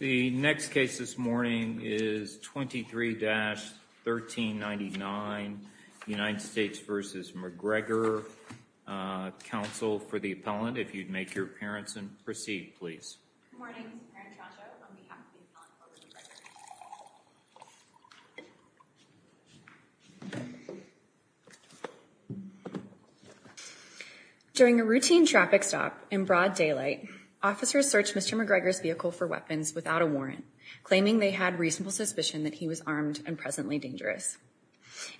The next case this morning is 23-1399, United States v. McGregor, counsel for the appellant. If you'd make your appearance and proceed please. During a routine traffic stop in broad daylight, officers searched Mr. McGregor's vehicle for weapons without a warrant, claiming they had reasonable suspicion that he was armed and presently dangerous.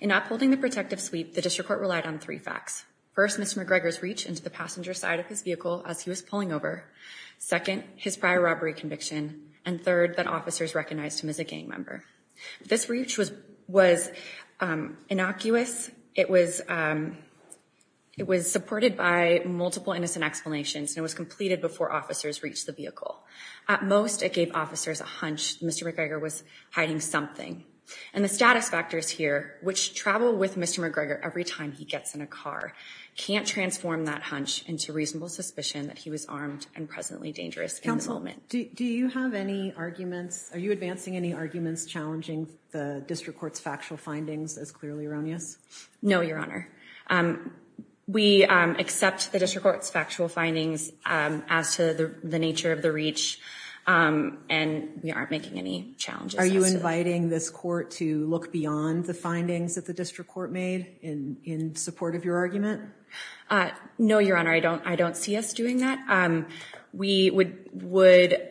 In upholding the protective sweep, the district court relied on three facts. First, Mr. McGregor's reach into the passenger side of his vehicle as he was pulling over. Second, his prior robbery conviction. And third, that officers recognized him as a gang member. This reach was innocuous. It was supported by multiple innocent explanations and it was completed before officers reached the vehicle. At most, it gave officers a hunch Mr. McGregor was hiding something. And the status factors here, which travel with Mr. McGregor every time he gets in a car, can't transform that hunch into reasonable suspicion that he was armed and presently dangerous in the moment. Counsel, do you have any arguments, are you advancing any arguments challenging the district court's factual findings as clearly erroneous? No, Your Honor. We accept the district court's factual findings as to the nature of the reach and we aren't making any challenges. Are you inviting this court to look beyond the findings that the district court made in support of your argument? No, Your Honor. I don't see us doing that. We would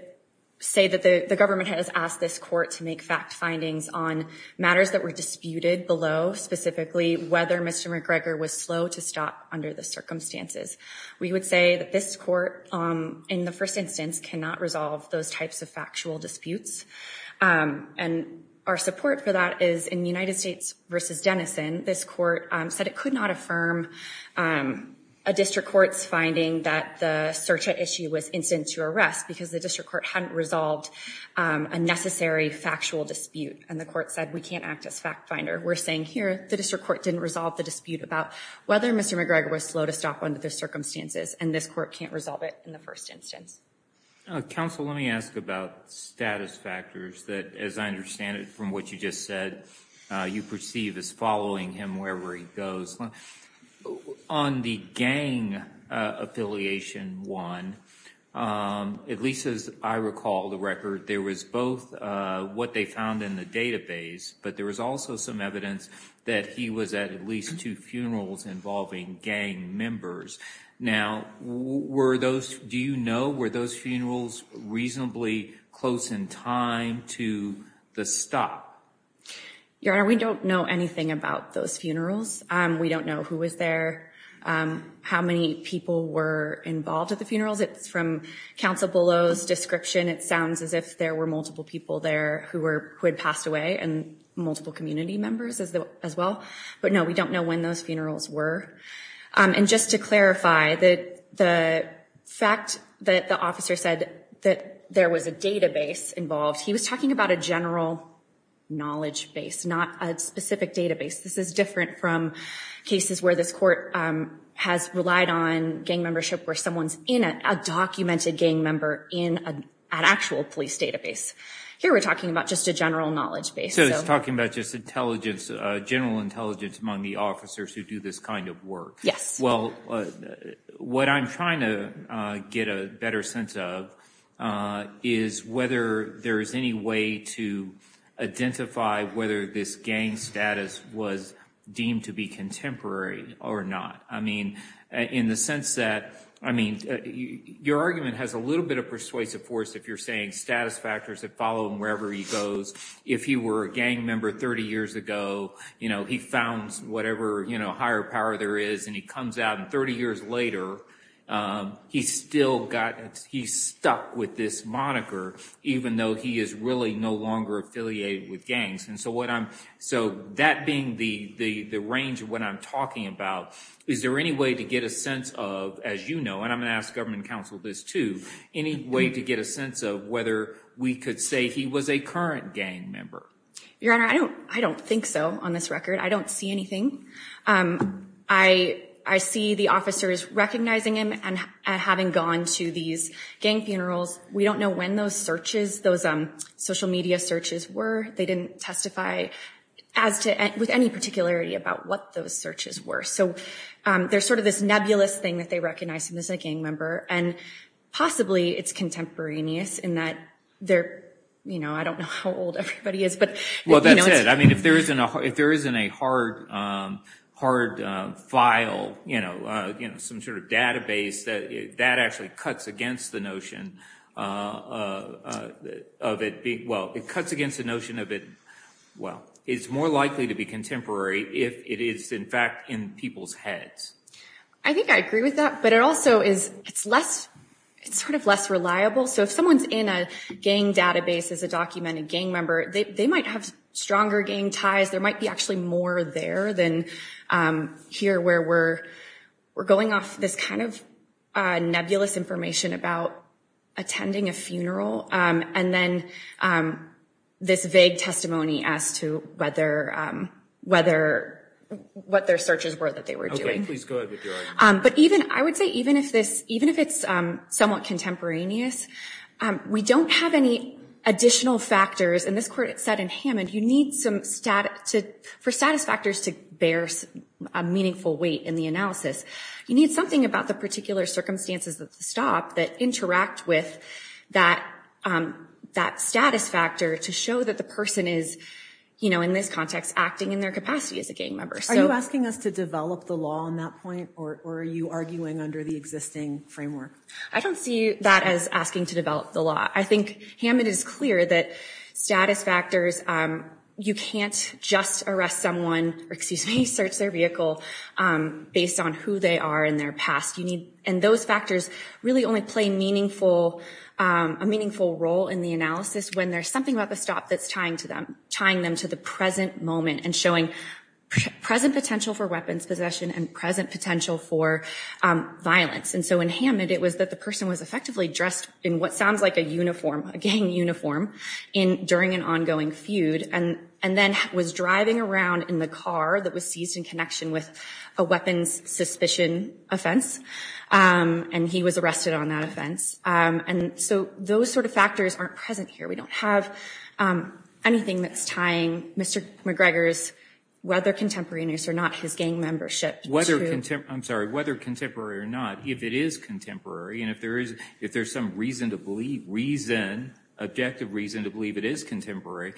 say that the government has asked this court to make fact findings on matters that were disputed below, specifically whether Mr. McGregor was slow to stop under the circumstances. We would say that this court, in the first instance, cannot resolve those types of factual disputes. And our support for that is in the United States v. Denison, this court said it could not affirm a district court's finding that the search at issue was instant to arrest because the district court hadn't resolved a necessary factual dispute and the court said we can't act as fact finder. We're saying here the district court didn't resolve the dispute about whether Mr. McGregor was slow to stop under the circumstances and this court can't resolve it in the first instance. Counsel, let me ask about status factors that, as I understand it from what you just said, you perceive as following him wherever he goes. On the gang affiliation one, at least as I recall the record, there was both what they found in the database, but there was also some evidence that he was at at least two funerals involving gang members. Now, were those, do you know, were those funerals reasonably close in time to the stop? Your Honor, we don't know anything about those funerals. We don't know who was there, how many people were involved at the funerals. It's from counsel Below's description, it sounds as if there were multiple people there who had passed away and multiple community members as well, but no, we don't know when those funerals were. And just to clarify, the fact that the officer said that there was a database involved, he was talking about a general knowledge base, not a specific database. This is different from cases where this court has relied on gang membership where someone's in a documented gang member in an actual police database. Here we're talking about just a general knowledge base. So he's talking about just intelligence, general intelligence among the officers who do this kind of work. Well, what I'm trying to get a better sense of is whether there is any way to identify whether this gang status was deemed to be contemporary or not. I mean, in the sense that, I mean, your argument has a little bit of persuasive force if you're saying status factors that follow him wherever he goes. If he were a gang member 30 years ago, you know, he founds whatever, you know, higher power there is and he comes out and 30 years later, he's still got, he's stuck with this moniker even though he is really no longer affiliated with gangs. And so what I'm, so that being the range of what I'm talking about, is there any way to get a sense of, as you know, and I'm going to ask government counsel this too, any way to get a sense of whether we could say he was a current gang member? Your Honor, I don't think so on this record. I don't see anything. I see the officers recognizing him and having gone to these gang funerals. We don't know when those searches, those social media searches were. They didn't testify as to, with any particularity about what those searches were. So there's sort of this nebulous thing that they recognize him as a gang member and possibly it's contemporaneous in that they're, you know, I don't know how old everybody is, but you know. Well, that's it. I mean, if there isn't a hard file, you know, some sort of database that actually cuts against the notion of it being, well, it cuts against the notion of it, well, it's more likely to be contemporary if it is in fact in people's heads. I think I agree with that, but it also is, it's less, it's sort of less reliable. So if someone's in a gang database as a documented gang member, they might have stronger gang ties. There might be actually more there than here where we're going off this kind of nebulous information about attending a funeral. And then this vague testimony as to whether, what their searches were that they were doing. But even, I would say even if it's somewhat contemporaneous, we don't have any additional factors. And this court said in Hammond, you need some, for status factors to bear a meaningful weight in the analysis, you need something about the particular circumstances of the stop that interact with that status factor to show that the person is, you know, in this context acting in their capacity as a gang member. Are you asking us to develop the law on that point, or are you arguing under the existing framework? I don't see that as asking to develop the law. I think Hammond is clear that status factors, you can't just arrest someone, or excuse me, search their vehicle based on who they are and their past. And those factors really only play meaningful, a meaningful role in the analysis when there's something about the stop that's tying them to the present moment and showing present potential for weapons possession and present potential for violence. And so in Hammond, it was that the person was effectively dressed in what sounds like a uniform, a gang uniform, during an ongoing feud, and then was driving around in the car that was seized in connection with a weapons suspicion offense. And he was arrested on that offense. And so those sort of factors aren't present here. We don't have anything that's tying Mr. McGregor's, whether contemporaneous or not, his gang membership to- I'm sorry, whether contemporary or not, if it is contemporary, and if there is some reason to believe, reason, objective reason to believe it is contemporary,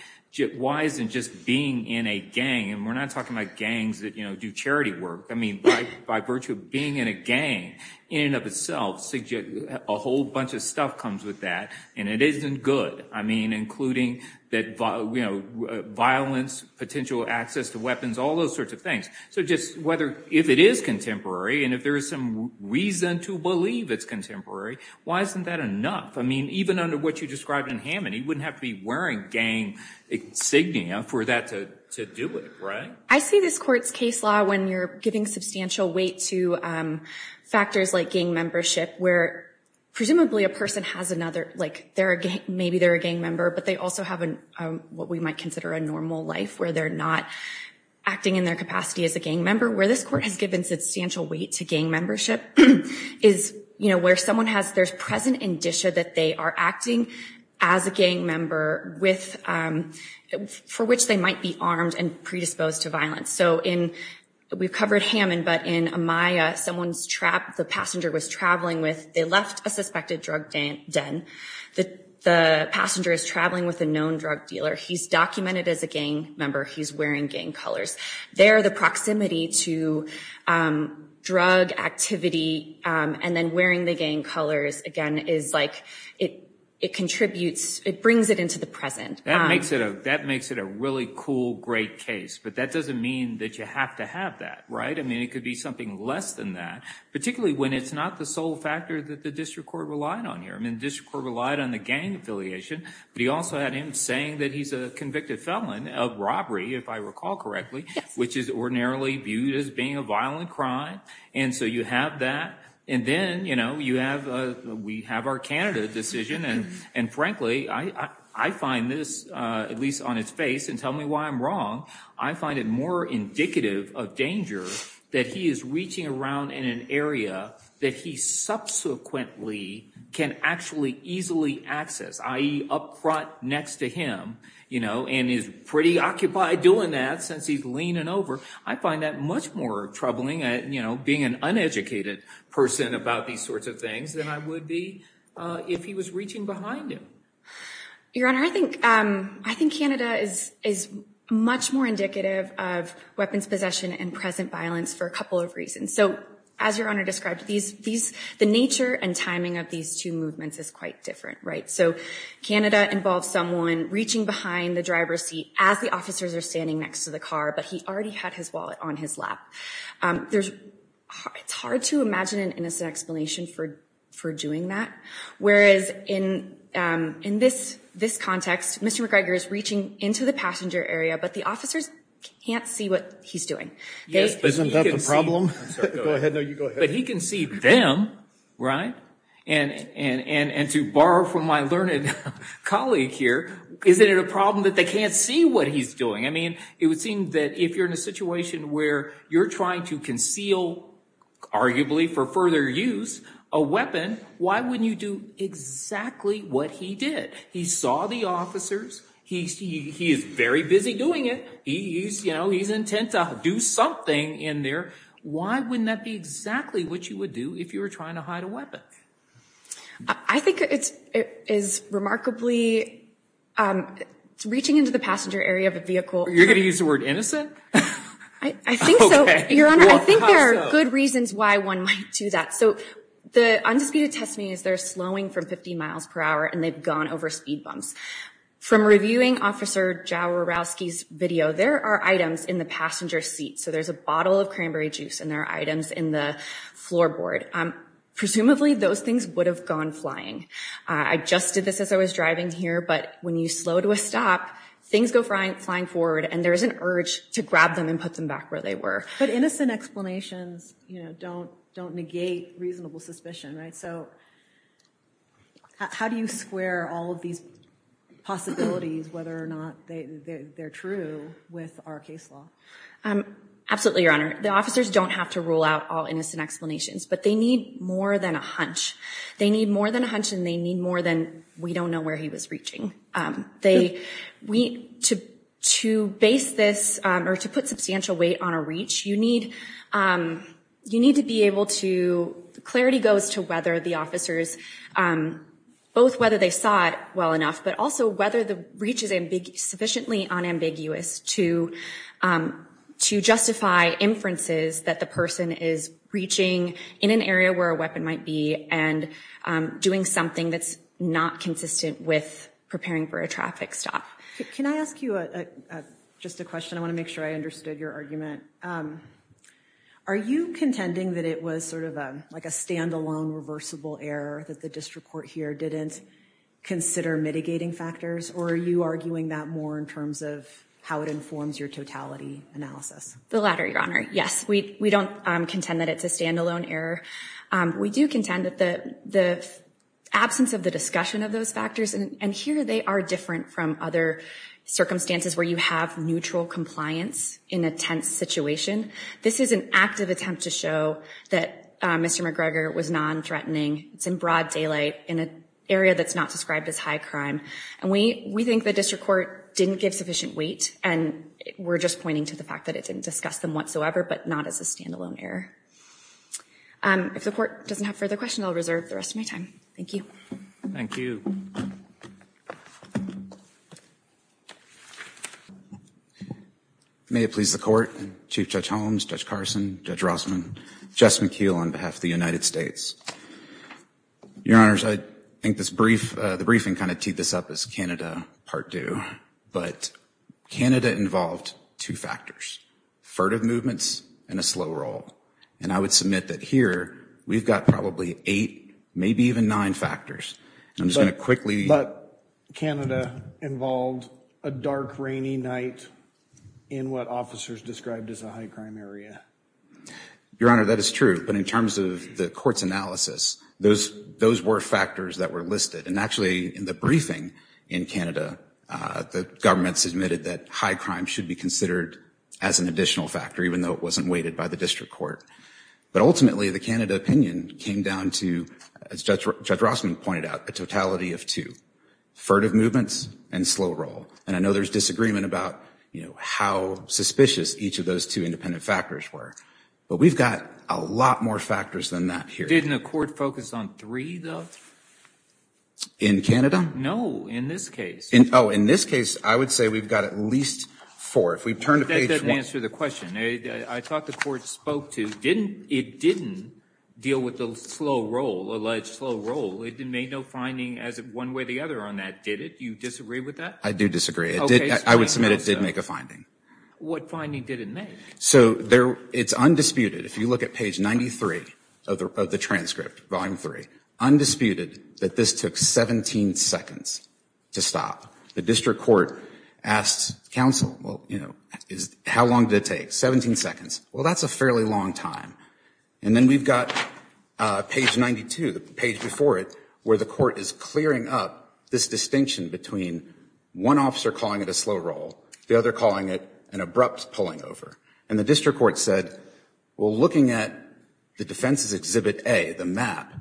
why isn't just being in a gang, and we're not talking about gangs that, you know, do charity work, I mean, by virtue of being in a gang, in and of itself, a whole bunch of stuff comes with that, and it isn't good. I mean, including that, you know, violence, potential access to weapons, all those sorts of things. So just whether, if it is contemporary, and if there is some reason to believe it's contemporary, why isn't that enough? I mean, even under what you described in Hammond, he wouldn't have to be wearing gang insignia for that to do it, right? I see this court's case law when you're giving substantial weight to factors like gang membership where, presumably, a person has another, like, maybe they're a gang member, but they also have what we might consider a normal life, where they're not acting in their capacity as a gang member. Where this court has given substantial weight to gang membership is, you know, where someone has, there's present indicia that they are acting as a gang member with, for which they might be armed and predisposed to violence. So in, we've covered Hammond, but in Amaya, someone's trapped, the passenger was traveling with, they left a suspected drug den, the passenger is traveling with a known drug dealer, he's documented as a gang member, he's wearing gang colors. There the proximity to drug activity, and then wearing the gang colors, again, is like, it contributes, it brings it into the present. That makes it a really cool, great case, but that doesn't mean that you have to have that, right? I mean, it could be something less than that, particularly when it's not the sole factor that the district court relied on here. I mean, the district court relied on the gang affiliation, but he also had him saying that he's a convicted felon of robbery, if I recall correctly, which is ordinarily viewed as being a violent crime, and so you have that, and then, you know, you have, we have our Canada decision, and frankly, I find this, at least on its face, and tell me why I'm wrong, I find it more indicative of danger that he is reaching around in an area that he subsequently can actually easily access, i.e. up front next to him, you know, and is pretty occupied doing that, since he's leaning over, I find that much more troubling, you know, being an uneducated person about these sorts of things, than I would be if he was reaching behind him. Your Honor, I think, I think Canada is much more indicative of weapons possession and present violence for a couple of reasons, so as Your Honor described, these, the nature and timing of these two movements is quite different, right? So Canada involves someone reaching behind the driver's seat as the officers are standing next to the car, but he already had his wallet on his lap. There's, it's hard to imagine an innocent explanation for, for doing that, whereas in, in this, this context, Mr. McGregor is reaching into the passenger area, but the officers can't see what he's doing. Yes, but isn't that the problem? Go ahead. No, you go ahead. But he can see them, right, and, and, and to borrow from my learned colleague here, isn't it a problem that they can't see what he's doing? I mean, it would seem that if you're in a situation where you're trying to conceal, arguably for further use, a weapon, why wouldn't you do exactly what he did? He saw the officers, he's, he, he is very busy doing it, he's, you know, he's intent to do something in there. Why wouldn't that be exactly what you would do if you were trying to hide a weapon? I, I think it's, it is remarkably, it's reaching into the passenger area of a vehicle. You're going to use the word innocent? I, I think so. Okay. Your Honor, I think there are good reasons why one might do that. So the undisputed testimony is they're slowing from 50 miles per hour and they've gone over speed bumps. From reviewing Officer Jaworowski's video, there are items in the passenger seat. So there's a bottle of cranberry juice and there are items in the floorboard. Presumably those things would have gone flying. I just did this as I was driving here, but when you slow to a stop, things go flying forward and there is an urge to grab them and put them back where they were. But innocent explanations, you know, don't, don't negate reasonable suspicion, right? So how do you square all of these possibilities, whether or not they, they're true with our case law? Absolutely, Your Honor. The officers don't have to rule out all innocent explanations, but they need more than a hunch. They need more than a hunch and they need more than, we don't know where he was reaching. They, we, to, to base this or to put substantial weight on a reach, you need, you need to be able to, clarity goes to whether the officers, both whether they saw it well enough, but also whether the reach is sufficiently unambiguous to, to justify inferences that the person is reaching in an area where a weapon might be and doing something that's not consistent with preparing for a traffic stop. Can I ask you a, just a question, I want to make sure I understood your argument. Are you contending that it was sort of like a standalone reversible error that the district court here didn't consider mitigating factors, or are you arguing that more in terms of how it informs your totality analysis? The latter, Your Honor. Yes, we, we don't contend that it's a standalone error. We do contend that the, the absence of the discussion of those factors, and here they are different from other circumstances where you have neutral compliance in a tense situation. This is an active attempt to show that Mr. McGregor was non-threatening. It's in broad daylight, in an area that's not described as high crime, and we, we think the district court didn't give sufficient weight, and we're just pointing to the fact that it didn't discuss them whatsoever, but not as a standalone error. If the court doesn't have further questions, I'll reserve the rest of my time. Thank you. Thank you. May it please the Court, Chief Judge Holmes, Judge Carson, Judge Rossman, Jess McKeel on behalf of the United States. Your Honors, I think this brief, the briefing kind of teed this up as Canada Part II, but Canada involved two factors, furtive movements and a slow roll, and I would submit that here we've got probably eight, maybe even nine factors. I'm just going to quickly... But, but Canada involved a dark, rainy night in what officers described as a high crime area. Your Honor, that is true, but in terms of the court's analysis, those, those were factors that were listed, and actually, in the briefing in Canada, the government submitted that high crime should be considered as an additional factor, even though it wasn't weighted by the district court. But ultimately, the Canada opinion came down to, as Judge Rossman pointed out, a totality of two, furtive movements and slow roll, and I know there's disagreement about, you know, how suspicious each of those two independent factors were, but we've got a lot more factors than that here. Didn't the court focus on three, though? In Canada? No, in this case. In, oh, in this case, I would say we've got at least four. If we turn to page... That doesn't answer the question. I thought the court spoke to, didn't, it didn't deal with the slow roll, alleged slow roll. It made no finding as of one way or the other on that, did it? You disagree with that? I do disagree. It did, I would submit it did make a finding. What finding did it make? So there, it's undisputed, if you look at page 93 of the transcript, volume 3, undisputed that this took 17 seconds to stop. The district court asked counsel, well, you know, how long did it take, 17 seconds. Well, that's a fairly long time. And then we've got page 92, the page before it, where the court is clearing up this distinction between one officer calling it a slow roll, the other calling it an abrupt pulling over. And the district court said, well, looking at the defense's exhibit A, the map,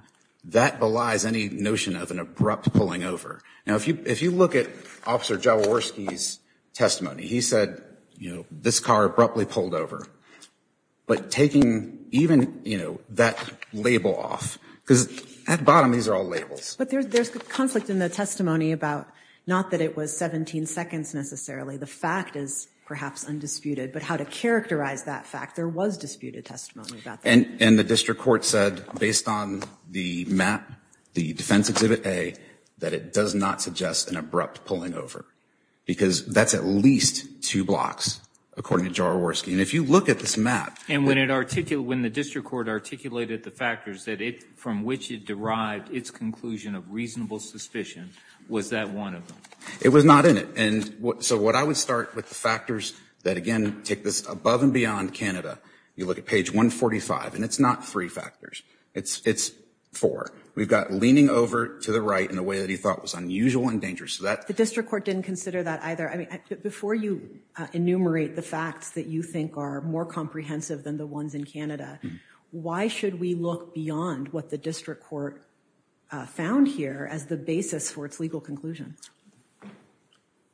that belies any notion of an abrupt pulling over. Now, if you, if you look at Officer Jaworski's testimony, he said, you know, this car abruptly pulled over. But taking even, you know, that label off, because at bottom, these are all labels. But there's, there's conflict in the testimony about, not that it was 17 seconds necessarily, the fact is perhaps undisputed, but how to characterize that fact. There was disputed testimony about that. And the district court said, based on the map, the defense exhibit A, that it does not suggest an abrupt pulling over. Because that's at least two blocks, according to Jaworski, and if you look at this map. And when it articulated, when the district court articulated the factors that it, from which it derived its conclusion of reasonable suspicion, was that one of them? It was not in it. And what, so what I would start with the factors that, again, take this above and beyond Canada, you look at page 145, and it's not three factors, it's, it's four. We've got leaning over to the right in a way that he thought was unusual and dangerous. So that. The district court didn't consider that either. I mean, before you enumerate the facts that you think are more comprehensive than the ones in Canada, why should we look beyond what the district court found here as the basis for its legal conclusion?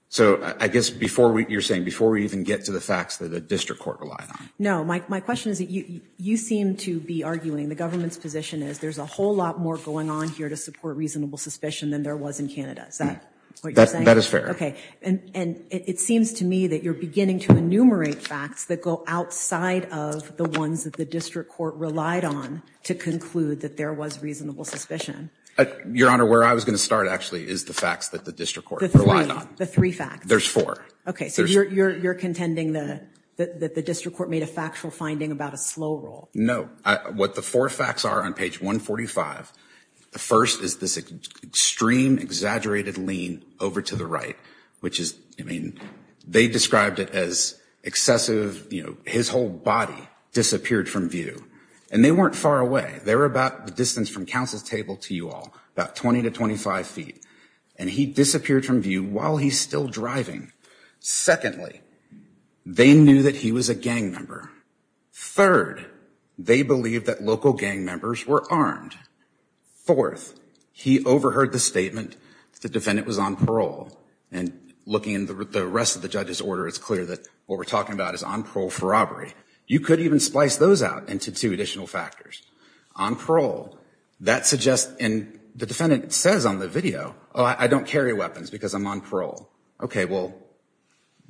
So I guess before we, you're saying, before we even get to the facts that the district court relied on. No, my question is, you seem to be arguing, the government's position is, there's a whole lot more going on here to support reasonable suspicion than there was in Canada, is that what you're saying? That is fair. Okay, and it seems to me that you're beginning to enumerate facts that go outside of the ones that the district court relied on to conclude that there was reasonable suspicion. Your Honor, where I was going to start actually is the facts that the district court relied on. The three facts. There's four. Okay, so you're contending that the district court made a factual finding about a slow roll. No, what the four facts are on page 145, the first is this extreme exaggerated lean over to the right, which is, I mean, they described it as excessive, you know, his whole body disappeared from view. And they weren't far away. They were about the distance from counsel's table to you all, about 20 to 25 feet. And he disappeared from view while he's still driving. Secondly, they knew that he was a gang member. Third, they believe that local gang members were armed. Fourth, he overheard the statement that the defendant was on parole. And looking at the rest of the judge's order, it's clear that what we're talking about is on parole for robbery. You could even splice those out into two additional factors. On parole, that suggests, and the defendant says on the video, oh, I don't carry weapons because I'm on parole. Okay, well,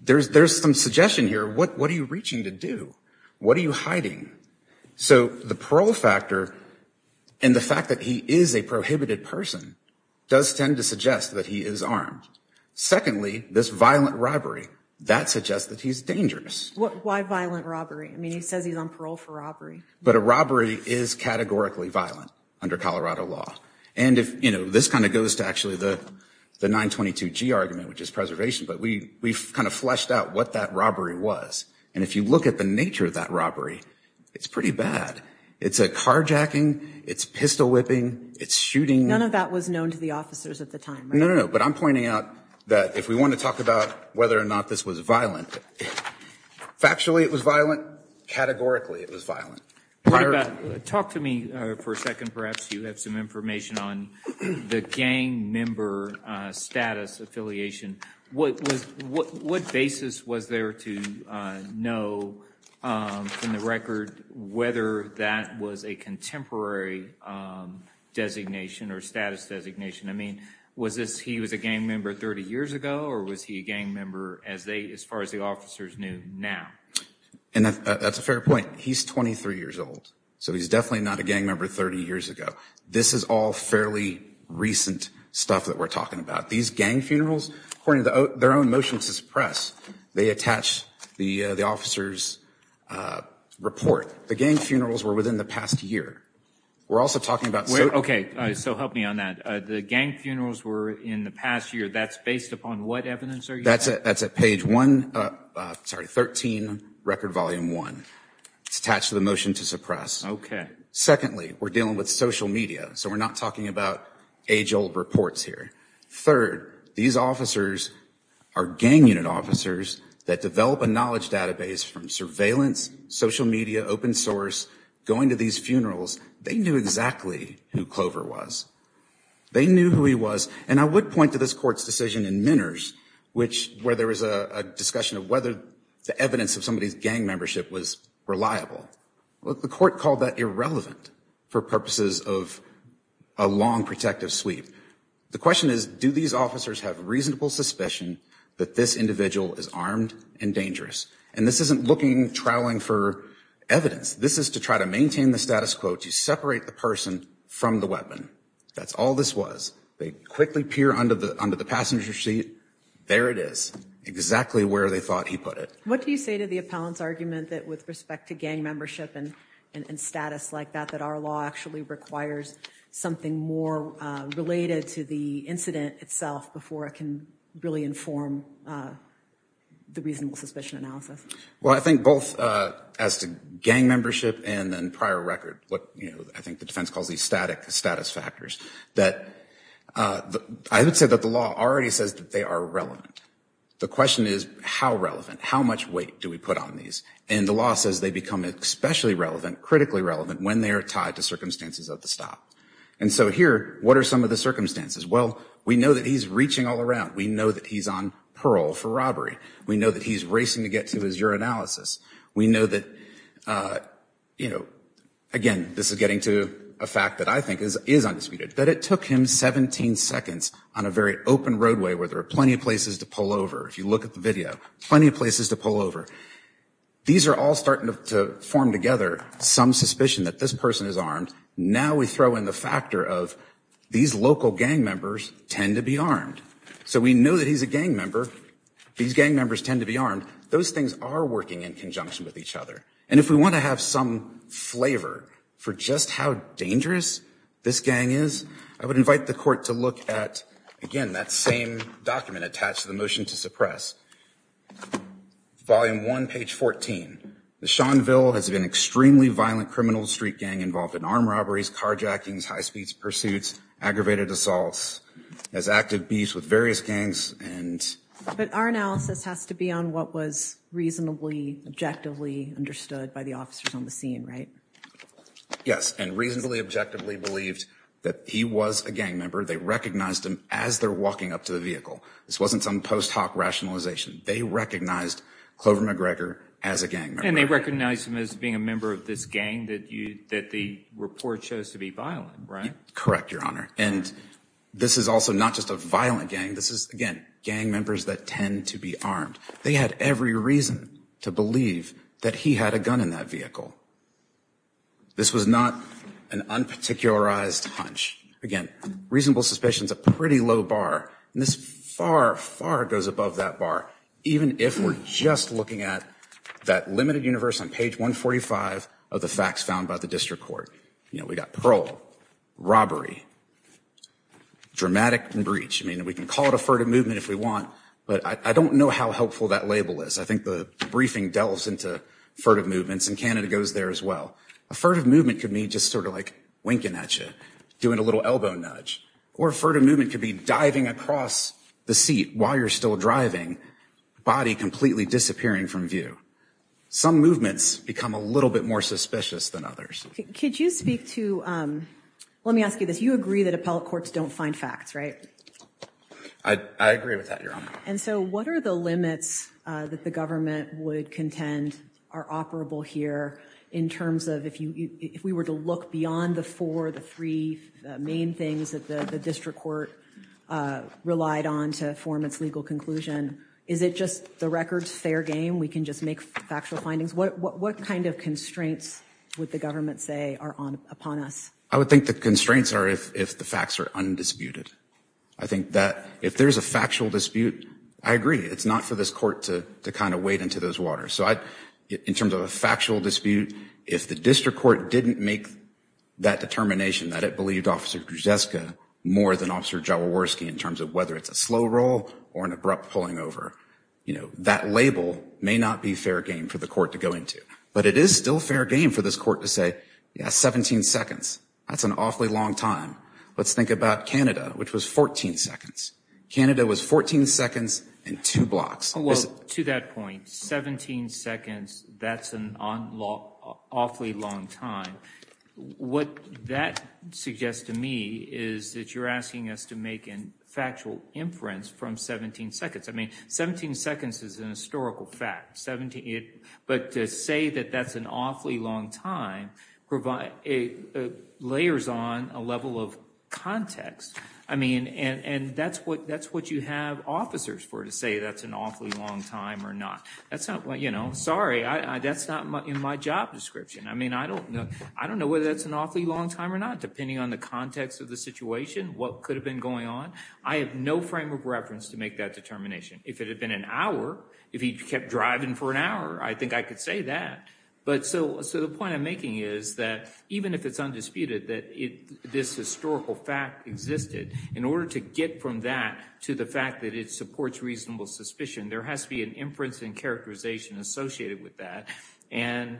there's some suggestion here. What are you reaching to do? What are you hiding? So the parole factor and the fact that he is a prohibited person does tend to suggest that he is armed. Secondly, this violent robbery, that suggests that he's dangerous. Why violent robbery? I mean, he says he's on parole for robbery. But a robbery is categorically violent under Colorado law. And if, you know, this kind of goes to actually the 922G argument, which is preservation, but we've kind of fleshed out what that robbery was. And if you look at the nature of that robbery, it's pretty bad. It's a carjacking. It's pistol whipping. It's shooting. None of that was known to the officers at the time. No, no, no. But I'm pointing out that if we want to talk about whether or not this was violent, factually it was violent, categorically it was violent. Talk to me for a second, perhaps you have some information on the gang member status affiliation. What basis was there to know from the record whether that was a contemporary designation or status designation? I mean, was this he was a gang member 30 years ago or was he a gang member as they, as far as the officers knew now? And that's a fair point. He's 23 years old. So he's definitely not a gang member 30 years ago. This is all fairly recent stuff that we're talking about. These gang funerals, according to their own motion to suppress, they attach the officer's report. The gang funerals were within the past year. We're also talking about- Okay. So help me on that. The gang funerals were in the past year. That's based upon what evidence are you- That's at page one, sorry, 13, record volume one. It's attached to the motion to suppress. Secondly, we're dealing with social media. So we're not talking about age old reports here. Third, these officers are gang unit officers that develop a knowledge database from surveillance, social media, open source, going to these funerals. They knew exactly who Clover was. They knew who he was. And I would point to this court's decision in Minners, where there was a discussion of whether the evidence of somebody's gang membership was reliable. The court called that irrelevant for purposes of a long protective sweep. The question is, do these officers have reasonable suspicion that this individual is armed and And this isn't looking, trawling for evidence. This is to try to maintain the status quo, to separate the person from the weapon. That's all this was. They quickly peer under the passenger seat. There it is, exactly where they thought he put it. What do you say to the appellant's argument that with respect to gang membership and status like that, that our law actually requires something more related to the incident itself before it can really inform the reasonable suspicion analysis? Well, I think both as to gang membership and then prior record, what I think the defense calls these static status factors, that I would say that the law already says that they are relevant. The question is, how relevant? How much weight do we put on these? And the law says they become especially relevant, critically relevant, when they are tied to circumstances of the stop. And so here, what are some of the circumstances? Well, we know that he's reaching all around. We know that he's on parole for robbery. We know that he's racing to get to his urinalysis. We know that, you know, again, this is getting to a fact that I think is undisputed, that it took him 17 seconds on a very open roadway where there are plenty of places to pull over. If you look at the video, plenty of places to pull over. These are all starting to form together some suspicion that this person is armed. Now we throw in the factor of these local gang members tend to be armed. So we know that he's a gang member. These gang members tend to be armed. Those things are working in conjunction with each other. And if we want to have some flavor for just how dangerous this gang is, I would invite the court to look at, again, that same document attached to the motion to suppress. Volume 1, page 14. The Seanville has been extremely violent criminal street gang involved in armed robberies, carjackings, high speeds, pursuits, aggravated assaults, has active beefs with various gangs. And but our analysis has to be on what was reasonably, objectively understood by the officers on the scene, right? Yes. And reasonably, objectively believed that he was a gang member. They recognized him as they're walking up to the vehicle. This wasn't some post hoc rationalization. They recognized Clover McGregor as a gang member and they recognized him as being a member of this gang that you that the report shows to be violent. Right. Correct. Your Honor. And this is also not just a violent gang. This is, again, gang members that tend to be armed. They had every reason to believe that he had a gun in that vehicle. This was not an unparticularized hunch. Again, reasonable suspicions, a pretty low bar, and this far, far goes above that bar. Even if we're just looking at that limited universe on page 145 of the facts found by the district court. You know, we got parole, robbery, dramatic and breach. I mean, we can call it a furtive movement if we want, but I don't know how helpful that label is. I think the briefing delves into furtive movements and Canada goes there as well. A furtive movement could mean just sort of like winking at you, doing a little elbow nudge or a furtive movement could be diving across the seat while you're still driving, body completely disappearing from view. Some movements become a little bit more suspicious than others. Could you speak to, let me ask you this. You agree that appellate courts don't find facts, right? I agree with that, Your Honor. And so what are the limits that the government would contend are operable here in terms of if we were to look beyond the four, the three main things that the district court relied on to form its legal conclusion? Is it just the record's fair game? We can just make factual findings? What kind of constraints would the government say are upon us? I would think the constraints are if the facts are undisputed. I think that if there's a factual dispute, I agree. It's not for this court to kind of wade into those waters. So in terms of a factual dispute, if the district court didn't make that determination that it believed Officer Grzeska more than Officer Jaworski in terms of whether it's a slow roll or an abrupt pulling over, you know, that label may not be fair game for the court to go into. But it is still fair game for this court to say, yeah, 17 seconds, that's an awfully long time. Let's think about Canada, which was 14 seconds. Canada was 14 seconds and two blocks. Well, to that point, 17 seconds, that's an awfully long time. What that suggests to me is that you're asking us to make a factual inference from 17 seconds. I mean, 17 seconds is a historical fact. But to say that that's an awfully long time provides layers on a level of context. I mean, and that's what you have officers for to say that's an awfully long time or not. That's not, you know, sorry, that's not in my job description. I mean, I don't know whether that's an awfully long time or not, depending on the context of the situation, what could have been going on. I have no frame of reference to make that determination. If it had been an hour, if he kept driving for an hour, I think I could say that. But so the point I'm making is that even if it's undisputed that this historical fact existed, in order to get from that to the fact that it supports reasonable suspicion, there has to be an inference and characterization associated with that. And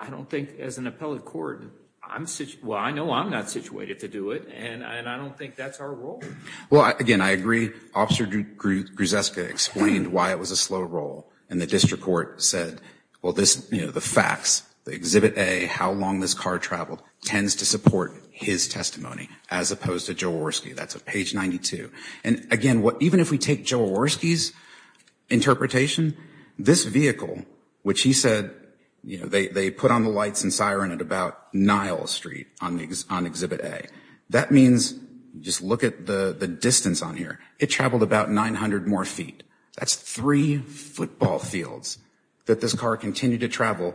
I don't think as an appellate court, I'm, well, I know I'm not situated to do it. And I don't think that's our role. Well, again, I agree. Officer Grzeska explained why it was a slow roll. And the district court said, well, this, you know, the facts, the Exhibit A, how long this car traveled, tends to support his testimony, as opposed to Joe Warski. That's page 92. And again, even if we take Joe Warski's interpretation, this vehicle, which he said, you know, they put on the lights and siren at about Nile Street on Exhibit A. That means, just look at the distance on here. It traveled about 900 more feet. That's three football fields that this car continued to travel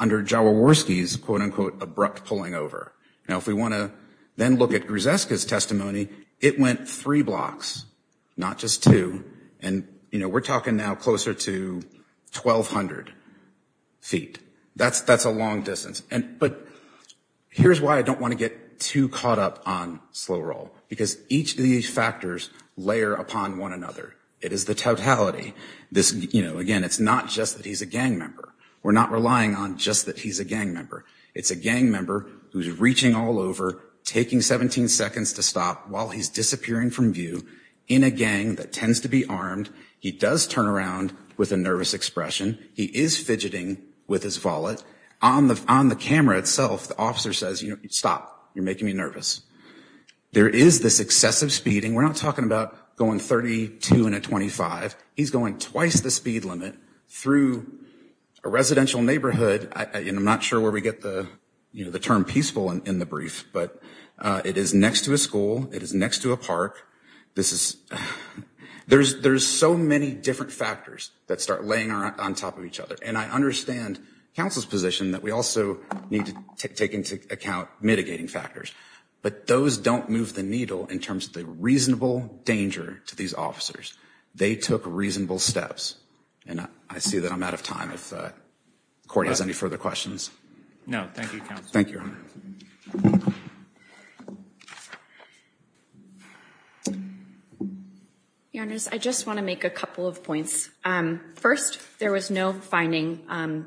under Joe Warski's, quote-unquote, abrupt pulling over. Now, if we want to then look at Grzeska's testimony, it went three blocks, not just two. And, you know, we're talking now closer to 1,200 feet. That's a long distance. But here's why I don't want to get too caught up on slow roll, because each of these factors layer upon one another. It is the totality. This, you know, again, it's not just that he's a gang member. We're not relying on just that he's a gang member. It's a gang member who's reaching all over, taking 17 seconds to stop while he's disappearing from view in a gang that tends to be armed. He does turn around with a nervous expression. He is fidgeting with his wallet. On the camera itself, the officer says, you know, stop, you're making me nervous. There is this excessive speeding. We're not talking about going 32 in a 25. He's going twice the speed limit through a residential neighborhood, and I'm not sure where we get the, you know, the term peaceful in the brief, but it is next to a school. It is next to a park. This is, there's so many different factors that start laying on top of each other, and I understand counsel's position that we also need to take into account mitigating factors, but those don't move the needle in terms of the reasonable danger to these officers. They took reasonable steps, and I see that I'm out of time if the court has any further questions. No, thank you, counsel. Thank you. Your Honor, I just want to make a couple of points. First, there was no finding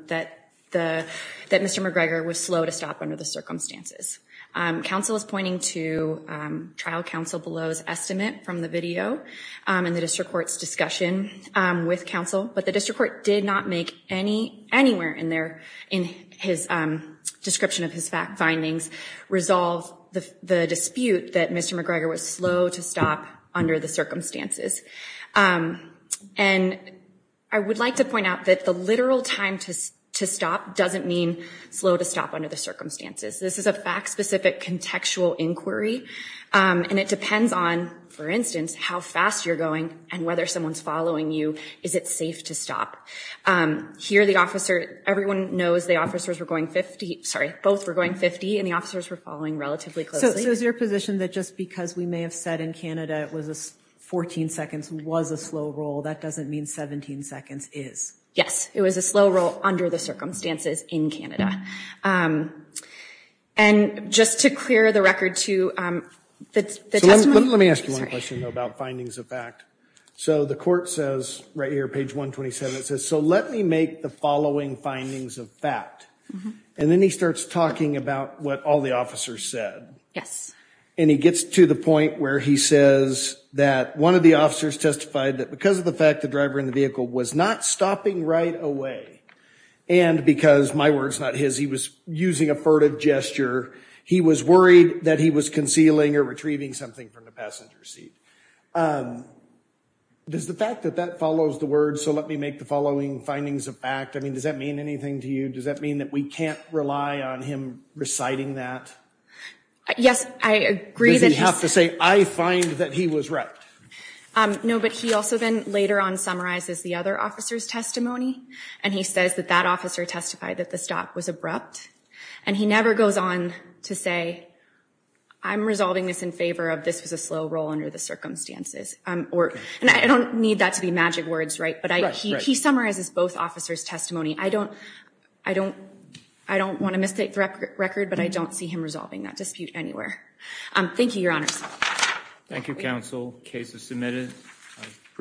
that the, that Mr. McGregor was slow to stop under the circumstances. Counsel is pointing to trial counsel below's estimate from the video and the district court's discussion with counsel, but the district court did not make any, anywhere in there, in his description of his findings, resolve the dispute that Mr. McGregor was slow to stop under the circumstances. And I would like to point out that the literal time to stop doesn't mean slow to stop under the circumstances. This is a fact-specific contextual inquiry, and it depends on, for instance, how fast you're going and whether someone's following you. Is it safe to stop? Here, the officer, everyone knows the officers were going 50, sorry, both were going 50, and the officers were following relatively closely. So is there a position that just because we may have said in Canada it was a 14 seconds was a slow roll, that doesn't mean 17 seconds is? Yes. It was a slow roll under the circumstances in Canada. And just to clear the record to the testimony. Let me ask one question about findings of fact. So the court says, right here, page 127, it says, so let me make the following findings of fact. And then he starts talking about what all the officers said. Yes. And he gets to the point where he says that one of the officers testified that because of the fact the driver in the vehicle was not stopping right away, and because, my word's not his, he was using a furtive gesture, he was worried that he was concealing or retrieving something from the passenger seat. Does the fact that that follows the word, so let me make the following findings of fact, I mean, does that mean anything to you? Does that mean that we can't rely on him reciting that? Yes, I agree that he's... Does he have to say, I find that he was right? No, but he also then later on summarizes the other officer's testimony, and he says that that officer testified that the stop was abrupt. And he never goes on to say, I'm resolving this in favor of this was a slow roll under the circumstances, or, and I don't need that to be magic words, right, but he summarizes both officers' testimony. I don't, I don't, I don't want to mistake the record, but I don't see him resolving that dispute anywhere. Thank you, Your Honors. Thank you, counsel. The case is submitted. I appreciate it.